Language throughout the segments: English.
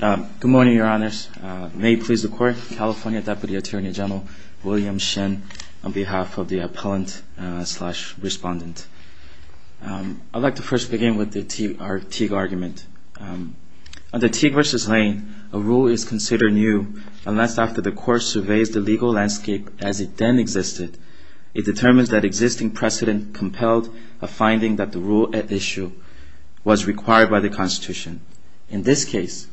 Good morning, Your Honors. May it please the Court, California Deputy Attorney General William Shin, on behalf of the appellant-slash-respondent. I'd like to first begin with our Teague argument. Under Teague v. Lane, a rule is considered new unless, after the Court surveys the legal landscape as it then existed, it determines that existing precedent compelled a finding that the rule at issue was required by the Constitution. In this case,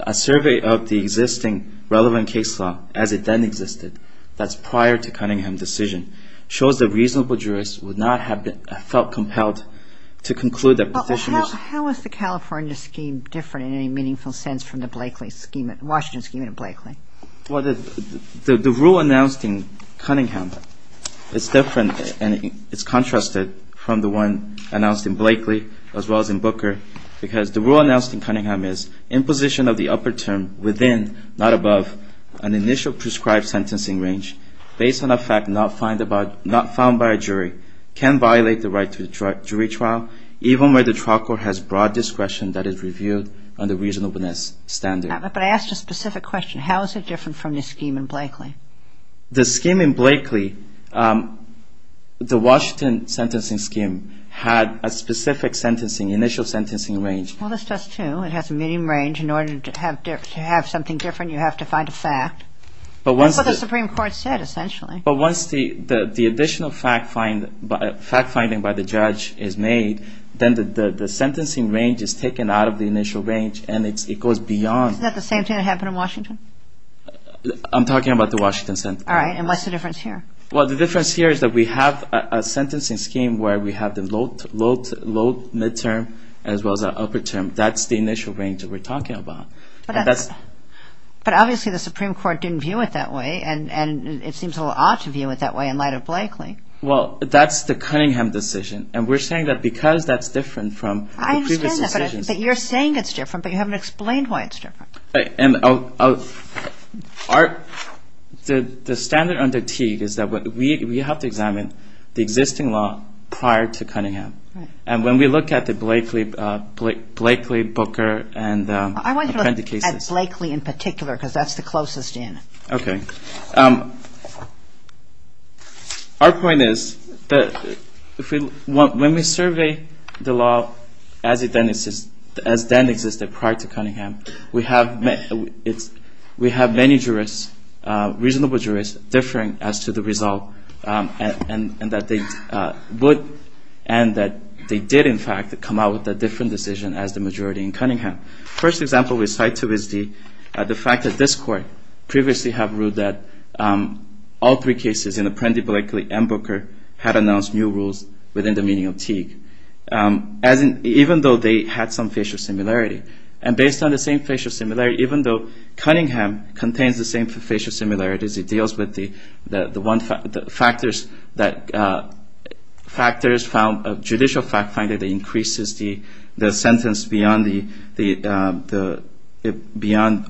a survey of the existing relevant case law as it then existed, that's prior to Cunningham's decision, shows that reasonable jurists would not have felt compelled to conclude that petitioners Well, how is the California scheme different in any meaningful sense from the Blakely scheme, the Washington scheme and Blakely? Well, the rule announced in Cunningham is different and it's contrasted from the one announced in Blakely as well as in Booker because the rule announced in Cunningham is imposition of the upper term within, not above, an initial prescribed sentencing range based on a fact not found by a jury can violate the right to a jury trial, even where the trial court has broad discretion that is reviewed under reasonableness standards. But I asked a specific question. How is it different from the scheme in Blakely? The scheme in Blakely, the Washington sentencing scheme, had a specific initial sentencing range. Well, this does too. It has a minimum range. In order to have something different, you have to find a fact. That's what the Supreme Court said, essentially. But once the additional fact finding by the judge is made, then the sentencing range is taken out of the initial range and it goes beyond. Isn't that the same thing that happened in Washington? I'm talking about the Washington sentencing scheme. All right. And what's the difference here? Well, the difference here is that we have a sentencing scheme where we have the low midterm as well as the upper term. That's the initial range that we're talking about. But obviously the Supreme Court didn't view it that way and it seems a little odd to view it that way in light of Blakely. Well, that's the Cunningham decision. And we're saying that because that's different from the previous decisions. I understand that. But you're saying it's different, but you haven't explained why it's different. And the standard under Teague is that we have to examine the existing law prior to Cunningham. And when we look at the Blakely, Booker and Appendix Cases. I want to look at Blakely in particular because that's the closest in. Okay. Our point is that when we survey the law as it then existed prior to Cunningham, we have many jurists, reasonable jurists, differing as to the result. And that they would and that they did in fact come out with a different decision as the majority in Cunningham. First example we cite to is the fact that this Court previously have ruled that all three cases in Appendix Blakely and Booker had announced new rules within the meaning of Teague. As in, even though they had some facial similarity. And based on the same facial similarity, even though Cunningham contains the same facial similarities, it deals with the factors, judicial factors that increases the sentence beyond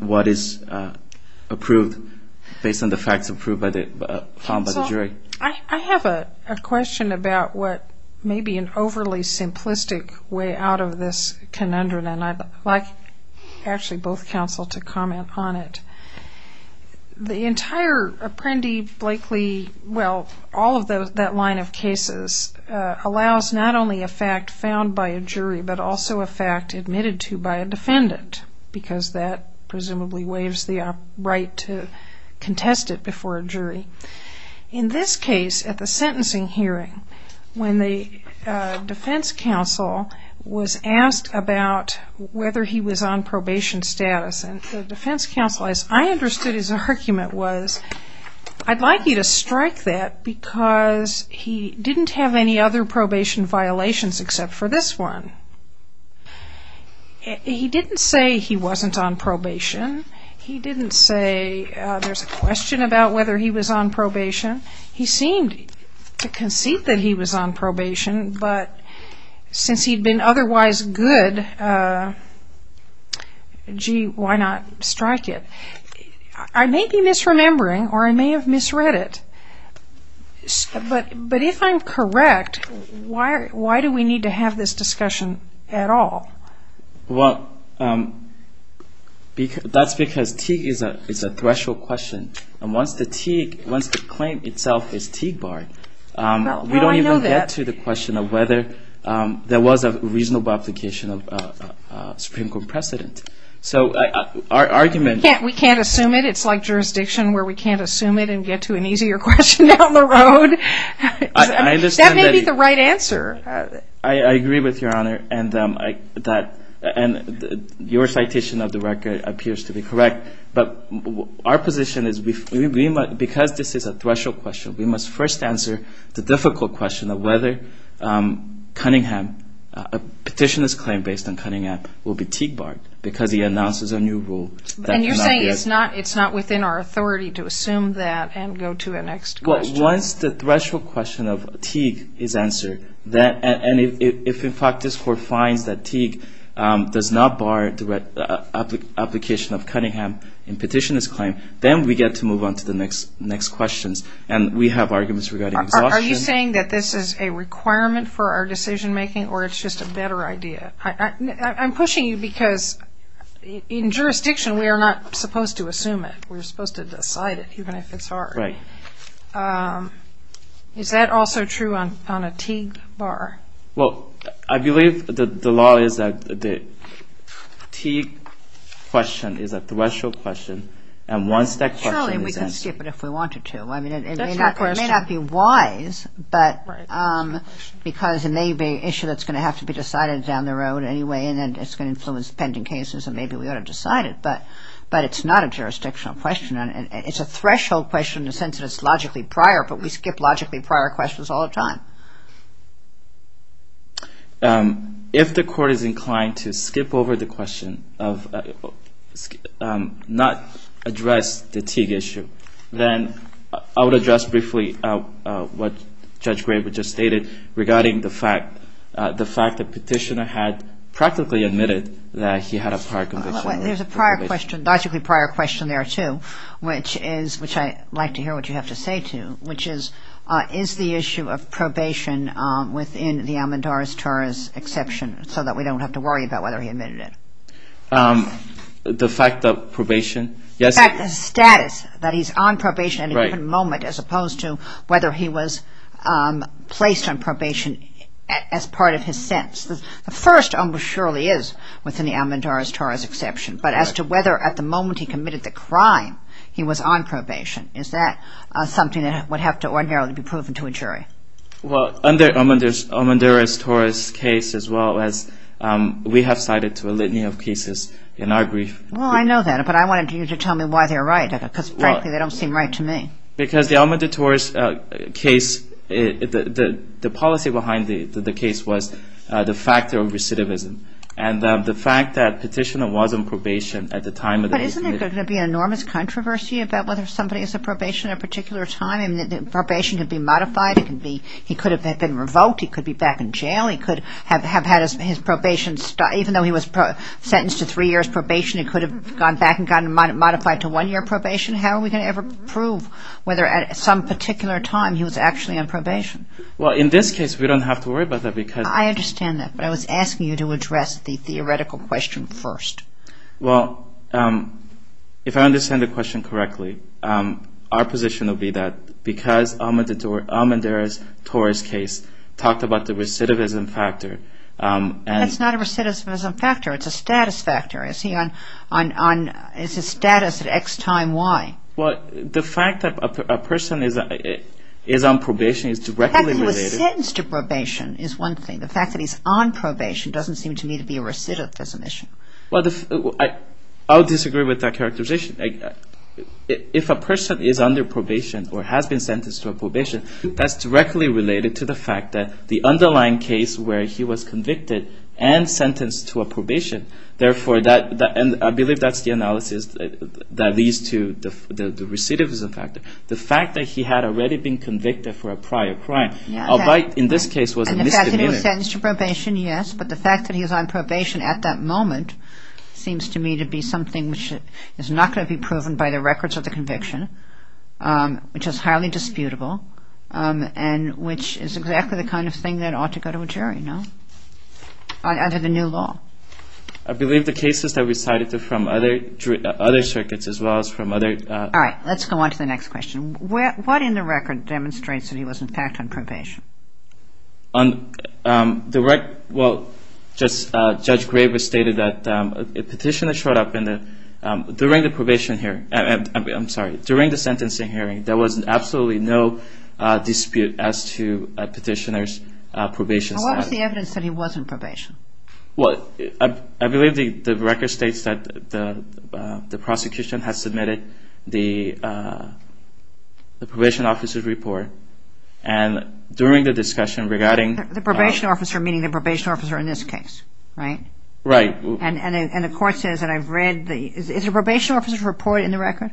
what is approved, based on the facts found by the jury. Counsel, I have a question about what may be an overly simplistic way out of this conundrum. And I'd like actually both counsel to comment on it. The entire Appendix Blakely, well, all of that line of cases allows not only a fact found by a jury, but also a fact admitted to by a defendant. Because that presumably waives the right to contest it before a jury. In this case, at the sentencing hearing, when the defense counsel was asked about whether he was on probation status, and the defense counsel, as I understood his argument was, I'd like you to strike that because he didn't have any other probation violations except for this one. He didn't say he wasn't on probation. He didn't say there's a question about whether he was on probation. He seemed to concede that he was on probation, but since he'd been otherwise good, gee, why not strike it? I may be misremembering, or I may have misread it, but if I'm correct, why do we need to have this discussion at all? Well, that's because Teague is a threshold question. And once the claim itself is Teague-barred, we don't even get to the question of whether there was a reasonable application of Supreme Court precedent. So our argument- We can't assume it. It's like jurisdiction where we can't assume it and get to an easier question down the road. That may be the right answer. I agree with Your Honor, and your citation of the record appears to be correct. But our position is because this is a threshold question, we must first answer the difficult question of whether Cunningham, a petitioner's claim based on Cunningham, will be Teague-barred because he announces a new rule. And you're saying it's not within our authority to assume that and go to the next question. Well, once the threshold question of Teague is answered, and if in fact this Court finds that Teague does not bar the application of Cunningham in petitioner's claim, then we get to move on to the next questions. And we have arguments regarding exhaustion. Are you saying that this is a requirement for our decision-making or it's just a better idea? I'm pushing you because in jurisdiction we are not supposed to assume it. We're supposed to decide it, even if it's hard. Right. Is that also true on a Teague bar? Well, I believe the law is that the Teague question is a threshold question, and one-step question is answered. Surely we can skip it if we wanted to. It may not be wise, but because it may be an issue that's going to have to be decided down the road anyway, and then it's going to influence pending cases, and maybe we ought to decide it. But it's not a jurisdictional question. It's a threshold question in the sense that it's logically prior, but we skip logically prior questions all the time. If the Court is inclined to skip over the question, not address the Teague issue, then I would address briefly what Judge Graber just stated regarding the fact, the fact that petitioner had practically admitted that he had a prior conviction. Well, there's a prior question, logically prior question there, too, which I'd like to hear what you have to say to, which is, is the issue of probation within the Al-Mandaris Torah's exception, so that we don't have to worry about whether he admitted it? The fact that probation, yes. The fact that status, that he's on probation at any given moment, as opposed to whether he was placed on probation as part of his sentence. The first almost surely is within the Al-Mandaris Torah's exception, but as to whether at the moment he committed the crime, he was on probation. Is that something that would have to ordinarily be proven to a jury? Well, under Al-Mandaris Torah's case as well as we have cited to a litany of cases in our brief. Well, I know that, but I wanted you to tell me why they're right, because frankly they don't seem right to me. Because the Al-Mandaris Torah's case, the policy behind the case was the factor of recidivism, and the fact that Petitioner was on probation at the time that he committed. But isn't there going to be an enormous controversy about whether somebody is on probation at a particular time? I mean, probation could be modified. He could have been revoked. He could be back in jail. He could have had his probation, even though he was sentenced to three years probation, he could have gone back and gotten modified to one year probation. How are we going to ever prove whether at some particular time he was actually on probation? Well, in this case, we don't have to worry about that because I understand that, but I was asking you to address the theoretical question first. Well, if I understand the question correctly, our position will be that because Al-Mandaris Torah's case talked about the recidivism factor That's not a recidivism factor. It's a status factor. It's a status at X time Y. Well, the fact that a person is on probation is directly related The fact that he was sentenced to probation is one thing. The fact that he's on probation doesn't seem to me to be a recidivism issue. Well, I would disagree with that characterization. If a person is under probation or has been sentenced to a probation, that's directly related to the fact that the underlying case where he was convicted and sentenced to a probation. Therefore, I believe that's the analysis that leads to the recidivism factor. The fact that he had already been convicted for a prior crime in this case was a misdemeanor. And the fact that he was sentenced to probation, yes, but the fact that he was on probation at that moment seems to me to be something which is not going to be proven by the records of the conviction, which is highly disputable and which is exactly the kind of thing that ought to go to a jury, no? Under the new law. I believe the cases that we cited from other circuits as well as from other... All right, let's go on to the next question. What in the record demonstrates that he was in fact on probation? On the record, well, Judge Graber stated that a petition that showed up during the probation here, I'm sorry, during the sentencing hearing, there was absolutely no dispute as to a petitioner's probation status. What was the evidence that he was on probation? Well, I believe the record states that the prosecution has submitted the probation officer's report. And during the discussion regarding... The probation officer, meaning the probation officer in this case, right? Right. And the court says that I've read the... Is the probation officer's report in the record?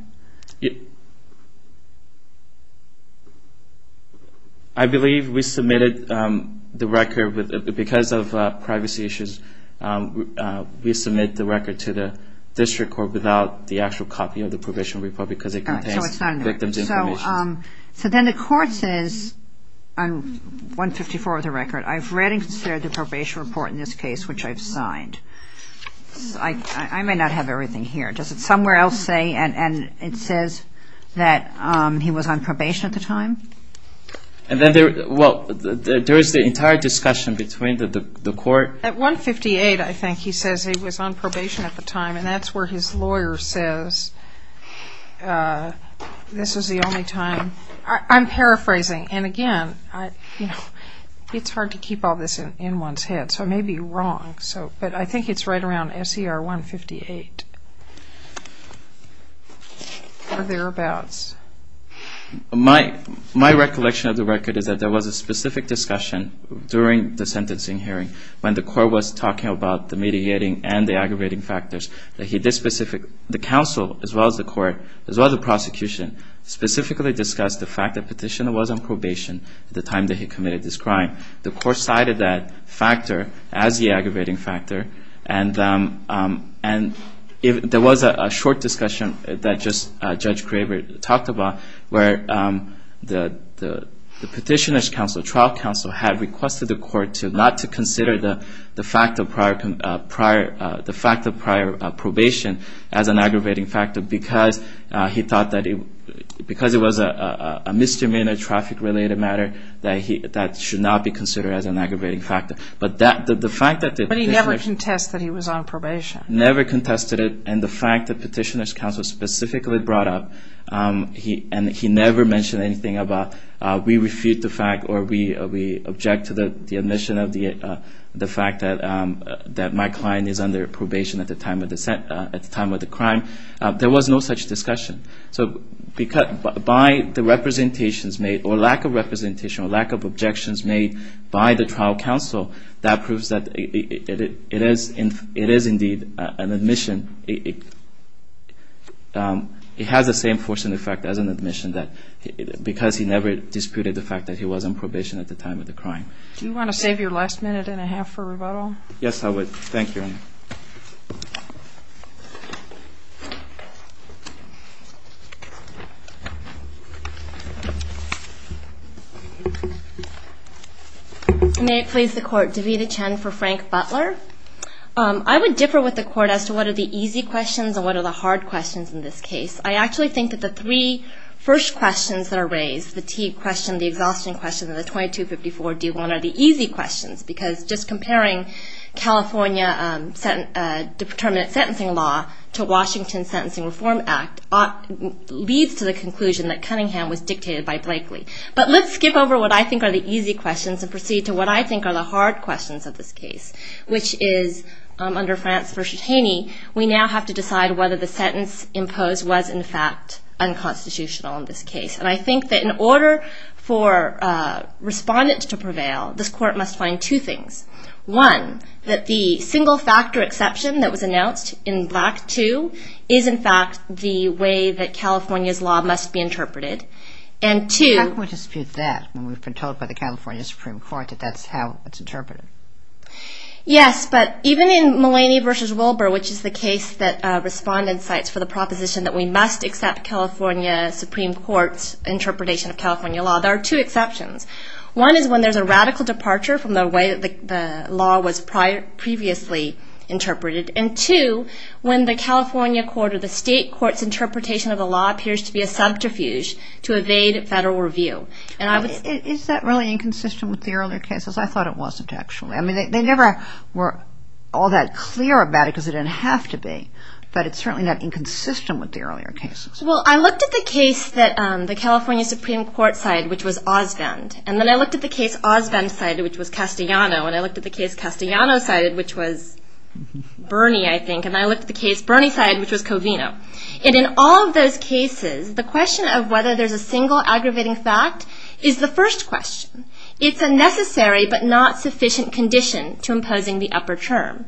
I believe we submitted the record because of privacy issues. We submit the record to the district court without the actual copy of the probation report because it contains victim's information. So then the court says, on 154 of the record, I've read and considered the probation report in this case, which I've signed. I may not have everything here. Does it somewhere else say, and it says that he was on probation at the time? Well, there is the entire discussion between the court... At 158, I think, he says he was on probation at the time, and that's where his lawyer says this is the only time. I'm paraphrasing, and again, it's hard to keep all this in one's head, so I may be wrong. But I think it's right around SER 158 or thereabouts. My recollection of the record is that there was a specific discussion during the sentencing hearing when the court was talking about the mediating and the aggravating factors. The counsel, as well as the court, as well as the prosecution, specifically discussed the fact that Petitioner was on probation at the time that he committed this crime. The court cited that factor as the aggravating factor, and there was a short discussion that Judge Craver talked about where the Petitioner's trial counsel had requested the court not to consider the fact of prior probation as an aggravating factor because he thought that it was a misdemeanor traffic-related matter that should not be considered as an aggravating factor. But he never contested that he was on probation. Never contested it, and the fact that Petitioner's counsel specifically brought up, and he never mentioned anything about, we refute the fact or we object to the admission of the fact that my client is under probation at the time of the crime. There was no such discussion. So by the representations made or lack of representation or lack of objections made by the trial counsel, that proves that it is indeed an admission. It has the same force and effect as an admission because he never disputed the fact that he was on probation at the time of the crime. Do you want to save your last minute and a half for rebuttal? Yes, I would. Thank you. May it please the Court. Davita Chen for Frank Butler. I would differ with the Court as to what are the easy questions and what are the hard questions in this case. I actually think that the three first questions that are raised, the T question, the exhaustion question, and the 2254-D1 are the easy questions because just comparing California determinate sentencing law to Washington's Sentencing Reform Act leads to the conclusion that Cunningham was dictated by Blakely. But let's skip over what I think are the easy questions and proceed to what I think are the hard questions of this case, which is under France v. Haney, we now have to decide whether the sentence imposed was in fact unconstitutional in this case. And I think that in order for respondents to prevail, this Court must find two things. One, that the single factor exception that was announced in Black 2 is in fact the way that California's law must be interpreted. How can we dispute that when we've been told by the California Supreme Court that that's how it's interpreted? Yes, but even in Mulaney v. Wilbur, which is the case that respondents cite for the proposition that we must accept California Supreme Court's interpretation of California law, there are two exceptions. One is when there's a radical departure from the way that the law was previously interpreted. And two, when the California court or the state court's interpretation of the law appears to be a subterfuge to evade federal review. Is that really inconsistent with the earlier cases? I thought it wasn't actually. I mean, they never were all that clear about it because it didn't have to be. But it's certainly not inconsistent with the earlier cases. Well, I looked at the case that the California Supreme Court cited, which was Osvend. And then I looked at the case Osvend cited, which was Castellano. And I looked at the case Castellano cited, which was Bernie, I think. And I looked at the case Bernie cited, which was Covino. And in all of those cases, the question of whether there's a single aggravating fact is the first question. It's a necessary but not sufficient condition to imposing the upper term.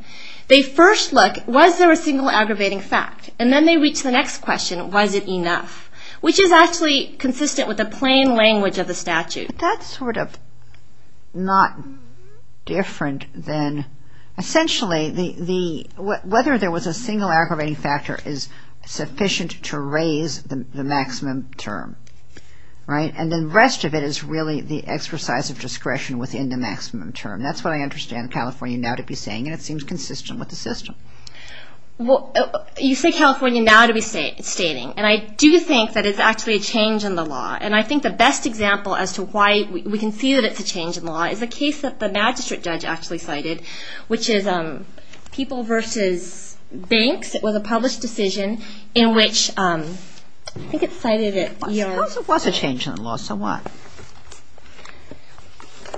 They first look, was there a single aggravating fact? And then they reach the next question, was it enough? Which is actually consistent with the plain language of the statute. That's sort of not different than, essentially, whether there was a single aggravating factor is sufficient to raise the maximum term. And the rest of it is really the exercise of discretion within the maximum term. That's what I understand California now to be saying. And it seems consistent with the system. You say California now to be stating. And I do think that it's actually a change in the law. And I think the best example as to why we can see that it's a change in the law is a case that the magistrate judge actually cited, which is People v. Banks. It was a published decision in which, I think it cited at Yale. It was a change in the law. So what?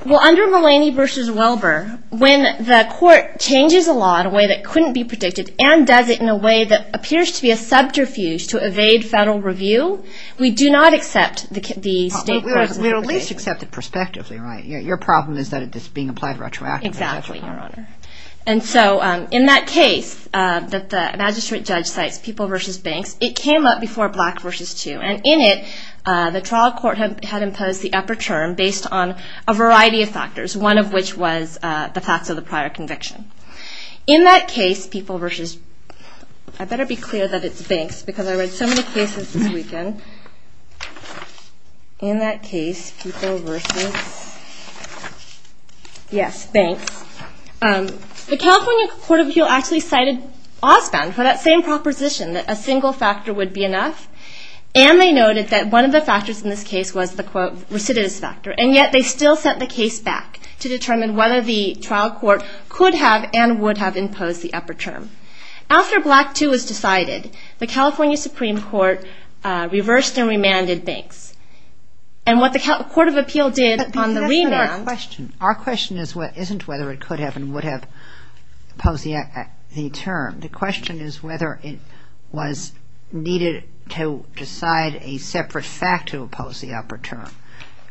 Well, under Mulaney v. Welber, when the court changes a law in a way that couldn't be predicted and does it in a way that appears to be a subterfuge to evade federal review, we do not accept the state court's interpretation. We at least accept it prospectively, right? Your problem is that it's being applied retroactively. Exactly, Your Honor. And so in that case that the magistrate judge cites, People v. Banks, it came up before Black v. 2. And in it, the trial court had imposed the upper term based on a variety of factors, one of which was the facts of the prior conviction. In that case, People v. I better be clear that it's Banks because I read so many cases this weekend. In that case, People v. Yes, Banks. The California Court of Appeal actually cited Osbon for that same proposition, that a single factor would be enough. And they noted that one of the factors in this case was the, quote, recidivist factor. And yet they still sent the case back to determine whether the trial court could have and would have imposed the upper term. After Black v. 2 was decided, the California Supreme Court reversed and remanded Banks. And what the Court of Appeal did on the remand. But that's not our question. Our question isn't whether it could have and would have imposed the term. The question is whether it was needed to decide a separate fact to impose the upper term.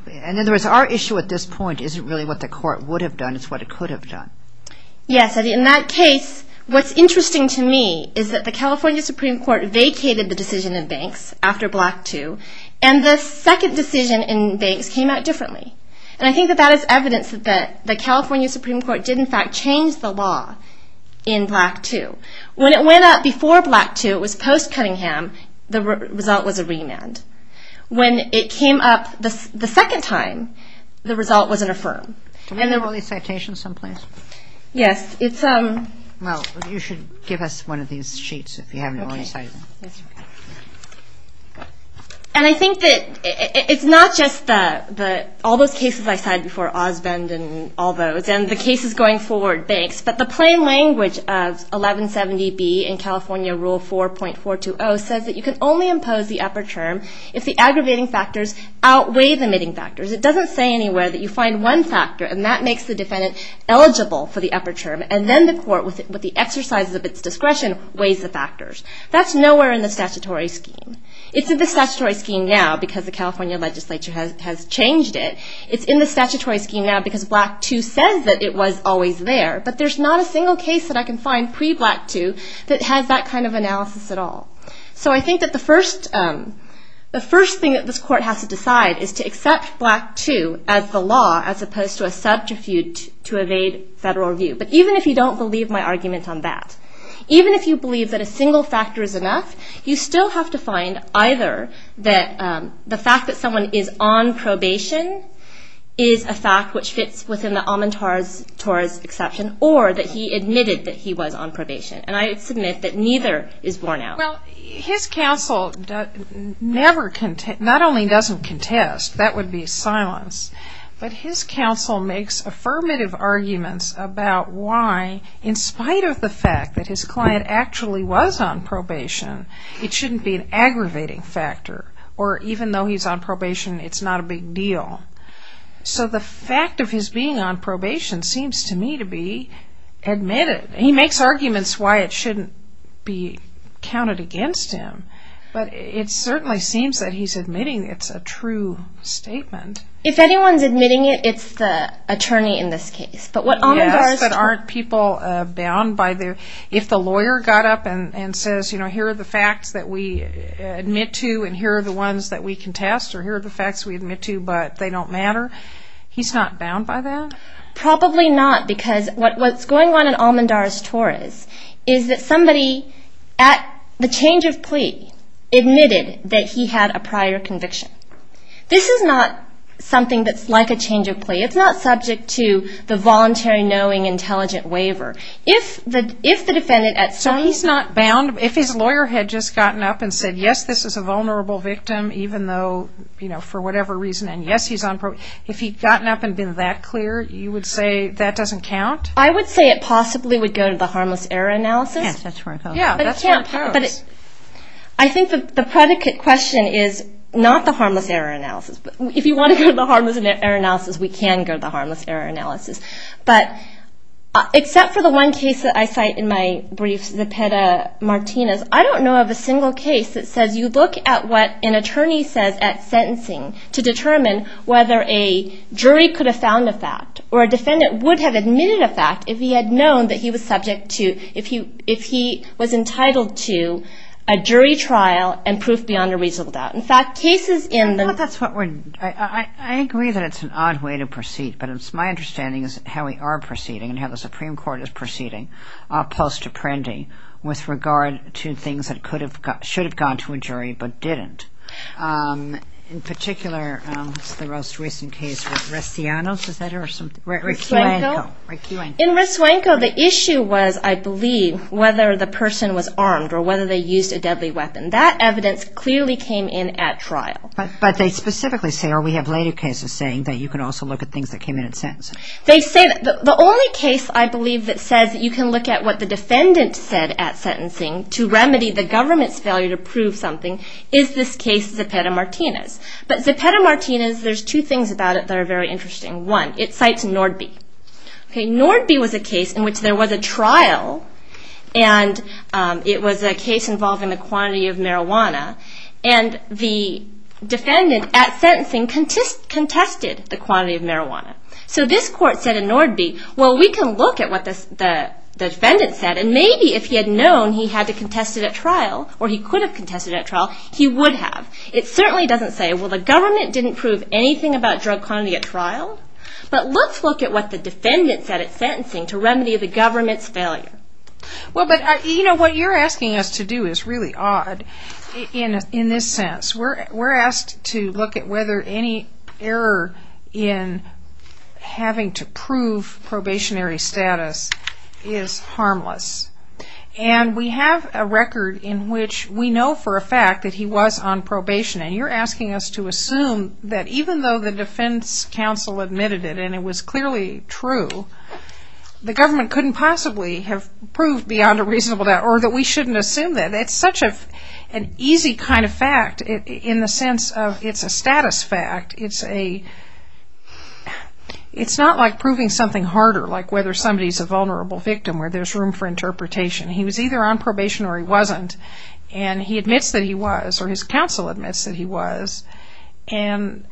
And in other words, our issue at this point isn't really what the court would have done. It's what it could have done. Yes. In that case, what's interesting to me is that the California Supreme Court vacated the decision in Banks after Black v. 2. And the second decision in Banks came out differently. And I think that that is evidence that the California Supreme Court did, in fact, change the law in Black v. 2. When it went up before Black v. 2, it was post-Cunningham. The result was a remand. When it came up the second time, the result was an affirm. Do we have the early citation someplace? Yes. Well, you should give us one of these sheets if you have an early citation. And I think that it's not just all those cases I cited before Osbend and all those and the cases going forward, Banks, but the plain language of 1170B in California Rule 4.420 says that you can only impose the upper term if the aggravating factors outweigh the admitting factors. It doesn't say anywhere that you find one factor, and that makes the defendant eligible for the upper term. And then the court, with the exercises of its discretion, weighs the factors. That's nowhere in the statutory scheme. It's in the statutory scheme now because the California legislature has changed it. It's in the statutory scheme now because Black v. 2 says that it was always there, but there's not a single case that I can find pre-Black v. 2 that has that kind of analysis at all. So I think that the first thing that this court has to decide is to accept Black v. 2 as the law as opposed to a substitute to evade federal review. But even if you don't believe my argument on that, even if you believe that a single factor is enough, you still have to find either that the fact that someone is on probation is a fact which fits within the amontor's exception, or that he admitted that he was on probation. And I submit that neither is borne out. Well, his counsel not only doesn't contest, that would be silence, but his counsel makes affirmative arguments about why, in spite of the fact that his client actually was on probation, it shouldn't be an aggravating factor, or even though he's on probation, it's not a big deal. So the fact of his being on probation seems to me to be admitted. He makes arguments why it shouldn't be counted against him, but it certainly seems that he's admitting it's a true statement. If anyone's admitting it, it's the attorney in this case. Yes, but aren't people bound by their... If the lawyer got up and says, you know, here are the facts that we admit to, and here are the ones that we contest, or here are the facts we admit to, but they don't matter, he's not bound by that? Probably not, because what's going on in Almendar's tour is that somebody, at the change of plea, admitted that he had a prior conviction. This is not something that's like a change of plea. It's not subject to the voluntary knowing intelligent waiver. So he's not bound? If his lawyer had just gotten up and said, yes, this is a vulnerable victim, even though, you know, for whatever reason, and yes, he's on probation, if he'd gotten up and been that clear, you would say that doesn't count? I would say it possibly would go to the harmless error analysis. Yes, that's where it goes. I think the predicate question is not the harmless error analysis. If you want to go to the harmless error analysis, we can go to the harmless error analysis. But except for the one case that I cite in my brief, Zepeda-Martinez, I don't know of a single case that says you look at what an attorney says at sentencing to determine whether a jury could have found a fact, or a defendant would have admitted a fact if he had known that he was subject to... if he was entitled to a jury trial and proof beyond a reasonable doubt. In fact, cases in the... I agree that it's an odd way to proceed, but my understanding is how we are proceeding and how the Supreme Court is proceeding post-Apprendi with regard to things that should have gone to a jury but didn't. In particular, the most recent case with Rescianos, is that it? In Rescianos, the issue was, I believe, whether the person was armed or whether they used a deadly weapon. That evidence clearly came in at trial. But they specifically say, or we have later cases saying, that you can also look at things that came in at sentence. They say that the only case, I believe, that says you can look at what the defendant said at sentencing to remedy the government's failure to prove something, is this case, Zepeda-Martinez. But Zepeda-Martinez, there's two things about it that are very interesting. One, it cites Nordby. Nordby was a case in which there was a trial and it was a case involving the quantity of marijuana, and the defendant at sentencing contested the quantity of marijuana. So this court said in Nordby, well, we can look at what the defendant said and maybe if he had known he had to contest it at trial, or he could have contested it at trial, he would have. It certainly doesn't say, well, the government didn't prove anything about drug quantity at trial, but let's look at what the defendant said at sentencing to remedy the government's failure. Well, but what you're asking us to do is really odd in this sense. We're asked to look at whether any error in having to prove probationary status is harmless. And we have a record in which we know for a fact that he was on probation, and you're asking us to assume that even though the defense counsel admitted it and it was clearly true, the government couldn't possibly have proved beyond a reasonable doubt or that we shouldn't assume that. It's such an easy kind of fact in the sense of it's a status fact. It's not like proving something harder, like whether somebody's a vulnerable victim where there's room for interpretation. He was either on probation or he wasn't, and he admits that he was, or his counsel admits that he was, and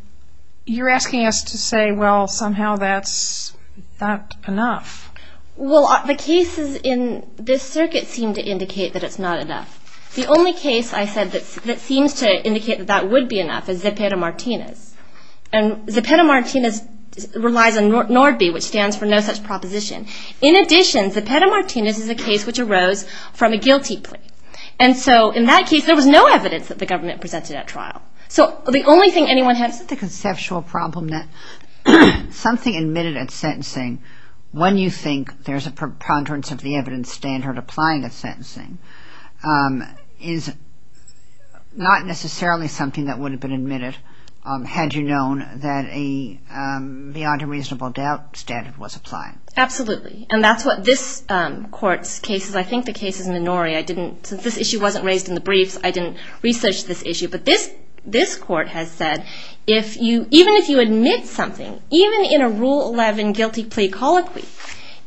you're asking us to say, well, somehow that's not enough. Well, the cases in this circuit seem to indicate that it's not enough. The only case I said that seems to indicate that that would be enough is Zepeda Martinez. And Zepeda Martinez relies on NORDB, which stands for no such proposition. In addition, Zepeda Martinez is a case which arose from a guilty plea. And so in that case, there was no evidence that the government presented at trial. So the only thing anyone had... Isn't it the conceptual problem that something admitted at sentencing, when you think there's a preponderance of the evidence standard applying at sentencing, is not necessarily something that would have been admitted had you known that a beyond a reasonable doubt standard was applied? Absolutely, and that's what this court's cases, I think the case is Minori, since this issue wasn't raised in the briefs, I didn't research this issue. But this court has said, even if you admit something, even in a Rule 11 guilty plea colloquy,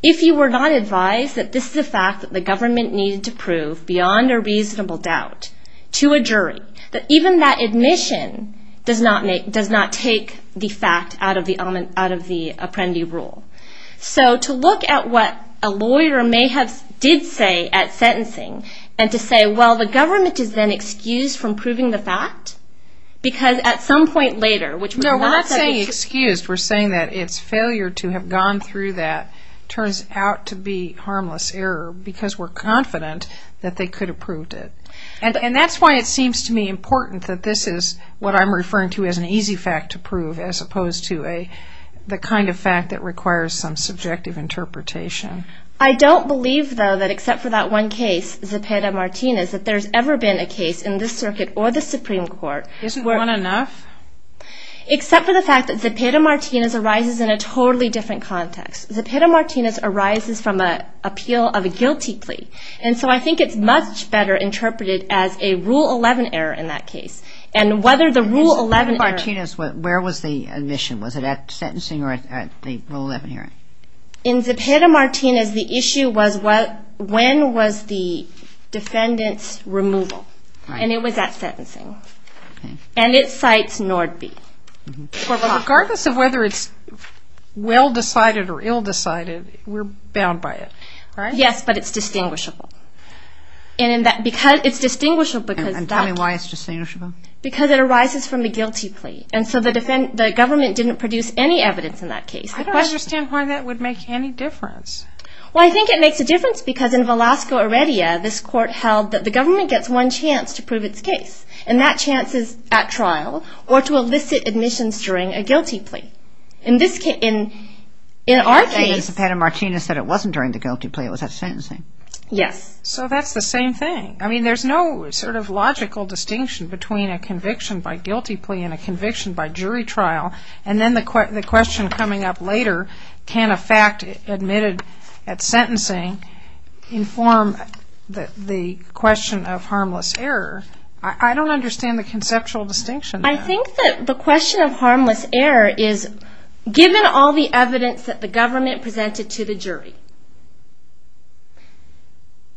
if you were not advised that this is a fact that the government needed to prove beyond a reasonable doubt to a jury, that even that admission does not take the fact out of the Apprendi Rule. So to look at what a lawyer may have did say at sentencing, and to say, well, the government is then excused from proving the fact, because at some point later... No, we're not saying excused. We're saying that its failure to have gone through that turns out to be harmless error, because we're confident that they could have proved it. And that's why it seems to me important that this is what I'm referring to as an easy fact to prove, as opposed to the kind of fact that requires some subjective interpretation. I don't believe, though, that except for that one case, Zepeda-Martinez, that there's ever been a case in this circuit or the Supreme Court... Isn't one enough? Except for the fact that Zepeda-Martinez arises in a totally different context. Zepeda-Martinez arises from an appeal of a guilty plea. And so I think it's much better interpreted as a Rule 11 error in that case. And whether the Rule 11 error... In Zepeda-Martinez, where was the admission? Was it at sentencing or at the Rule 11 hearing? In Zepeda-Martinez, the issue was when was the defendant's removal. And it was at sentencing. And it cites Nordby. Regardless of whether it's well decided or ill decided, we're bound by it, right? Yes, but it's distinguishable. It's distinguishable because that... And tell me why it's distinguishable. Because it arises from the guilty plea. And so the government didn't produce any evidence in that case. I don't understand why that would make any difference. Well, I think it makes a difference because in Velasco-Aredia, this court held that the government gets one chance to prove its case. And that chance is at trial or to elicit admissions during a guilty plea. In our case... And Zepeda-Martinez said it wasn't during the guilty plea. It was at sentencing. Yes. So that's the same thing. I mean, there's no sort of logical distinction between a conviction by guilty plea and a conviction by jury trial. And then the question coming up later, can a fact admitted at sentencing inform the question of harmless error? I don't understand the conceptual distinction there. I think that the question of harmless error is, given all the evidence that the government presented to the jury,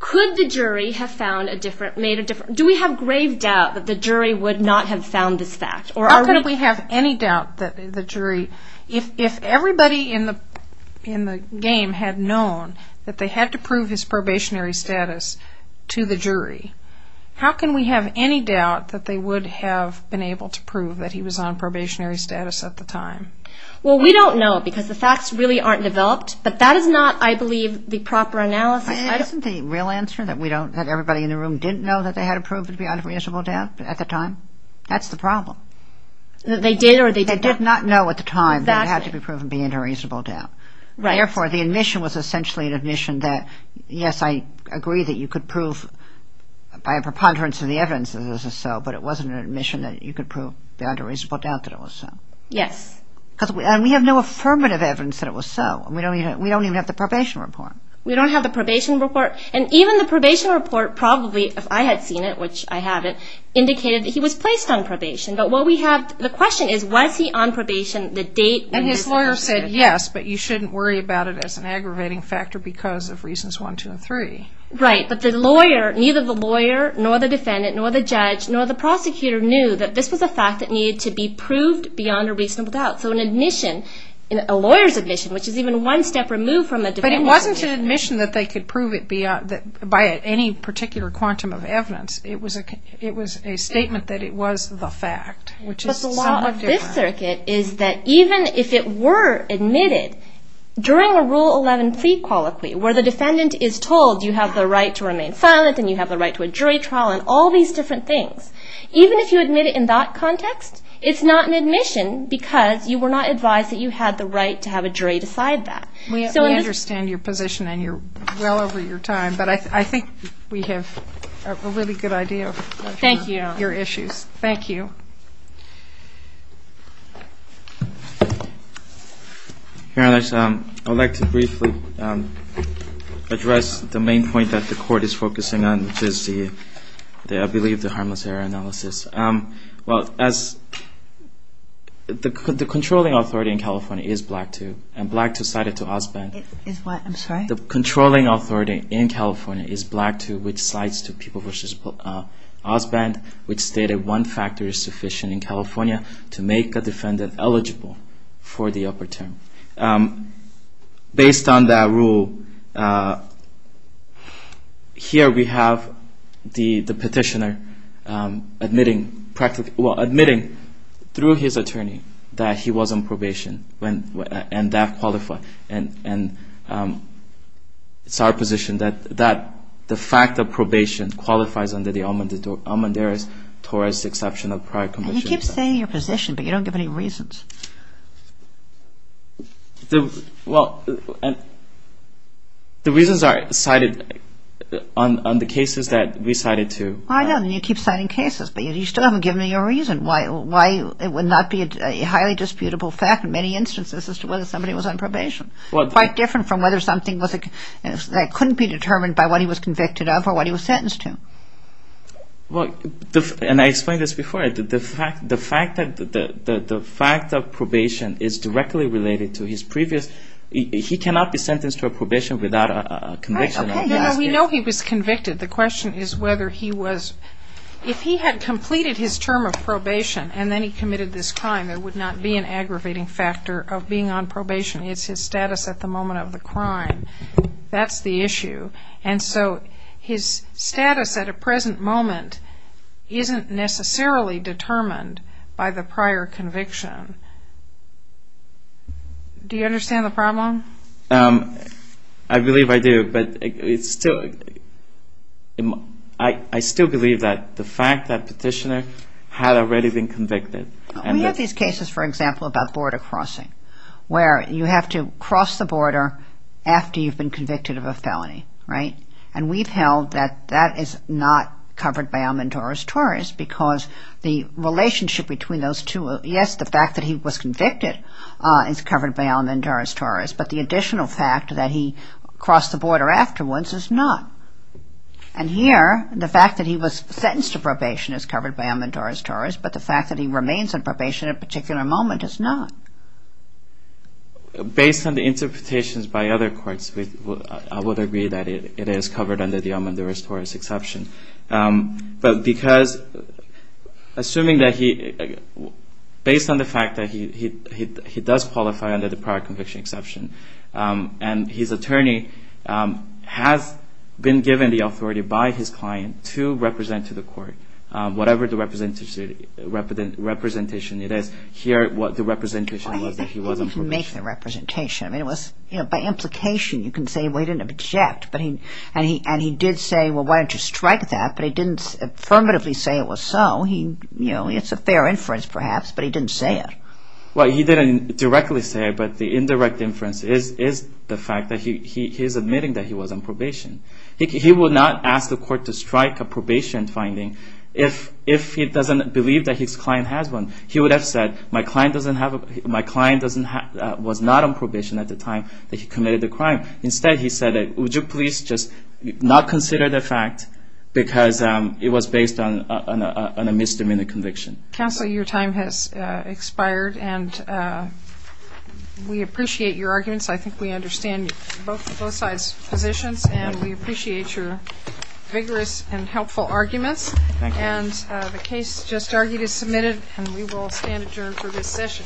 could the jury have found a different, made a different... Do we have grave doubt that the jury would not have found this fact? How could we have any doubt that the jury... If everybody in the game had known that they had to prove his probationary status to the jury, how can we have any doubt that they would have been able to prove that he was on probationary status at the time? Well, we don't know because the facts really aren't developed. But that is not, I believe, the proper analysis. Isn't the real answer that everybody in the room didn't know that they had to prove to be under reasonable doubt at the time? That's the problem. They did or they didn't? They did not know at the time that it had to be proven to be under reasonable doubt. Therefore, the admission was essentially an admission that, yes, I agree that you could prove by a preponderance of the evidence that this is so, but it wasn't an admission that you could prove beyond a reasonable doubt that it was so. Yes. Because we have no affirmative evidence that it was so. We don't even have the probation report. We don't have the probation report. And even the probation report probably, if I had seen it, which I haven't, indicated that he was placed on probation. But what we have, the question is, was he on probation the date when he was arrested? And his lawyer said, yes, but you shouldn't worry about it as an aggravating factor because of reasons one, two, and three. Right. But the lawyer, neither the lawyer nor the defendant nor the judge nor the prosecutor knew that this was a fact that needed to be proved beyond a reasonable doubt. So an admission, a lawyer's admission, which is even one step removed from the defendant's admission. But it wasn't an admission that they could prove it by any particular quantum of evidence. It was a statement that it was the fact, which is somewhat different. But the law of this circuit is that even if it were admitted during a Rule 11 prequaliquy, where the defendant is told you have the right to remain silent and you have the right to a jury trial and all these different things, even if you admit it in that context, it's not an admission because you were not advised that you had the right to have a jury decide that. We understand your position and you're well over your time, but I think we have a really good idea of your issues. Thank you. Thank you. Your Honor, I would like to briefly address the main point that the Court is focusing on, which is, I believe, the harmless error analysis. Well, the controlling authority in California is Black 2, and Black 2 cited to Osbent. I'm sorry? The controlling authority in California is Black 2, which cites to People v. Osbent, which stated one factor is sufficient in California to make a defendant eligible for the upper term. Based on that rule, here we have the petitioner admitting, well, admitting through his attorney that he was on probation and that qualified. And it's our position that the fact of probation qualifies under the Almondares-Torres He keeps saying your position, but you don't give any reasons. Well, the reasons are cited on the cases that we cited to. I know, and you keep citing cases, but you still haven't given me your reason why it would not be a highly disputable fact in many instances as to whether somebody was on probation, quite different from whether something that couldn't be determined by what he was convicted of or what he was sentenced to. Well, and I explained this before. The fact that the fact of probation is directly related to his previous, he cannot be sentenced to a probation without a conviction. We know he was convicted. The question is whether he was, if he had completed his term of probation and then he committed this crime, there would not be an aggravating factor of being on probation. It's his status at the moment of the crime. That's the issue. And so his status at a present moment isn't necessarily determined by the prior conviction. Do you understand the problem? I believe I do, but I still believe that the fact that petitioner had already been convicted. We have these cases, for example, about border crossing, where you have to cross the border after you've been convicted of a felony, right? And we've held that that is not covered by alimentaris torus because the relationship between those two, yes, the fact that he was convicted is covered by alimentaris torus, but the additional fact that he crossed the border afterwards is not. And here, the fact that he was sentenced to probation is covered by alimentaris torus, but the fact that he remains on probation at a particular moment is not. Based on the interpretations by other courts, I would agree that it is covered under the alimentaris torus exception. But because, assuming that he, based on the fact that he does qualify under the prior conviction exception and his attorney has been given the authority by his client to represent to the court, whatever the representation it is, here what the representation was that he was on probation. He didn't make the representation. By implication, you can say he didn't object, and he did say, well, why don't you strike that? But he didn't affirmatively say it was so. It's a fair inference, perhaps, but he didn't say it. Well, he didn't directly say it, but the indirect inference is the fact that he is admitting that he was on probation. He would not ask the court to strike a probation finding if he doesn't believe that his client has one. He would have said, my client was not on probation at the time that he committed the crime. Instead, he said, would you please just not consider the fact because it was based on a misdemeanor conviction. Counsel, your time has expired, and we appreciate your arguments. I think we understand both sides' positions, and we appreciate your vigorous and helpful arguments. Thank you. And the case just argued is submitted, and we will stand adjourned for this session.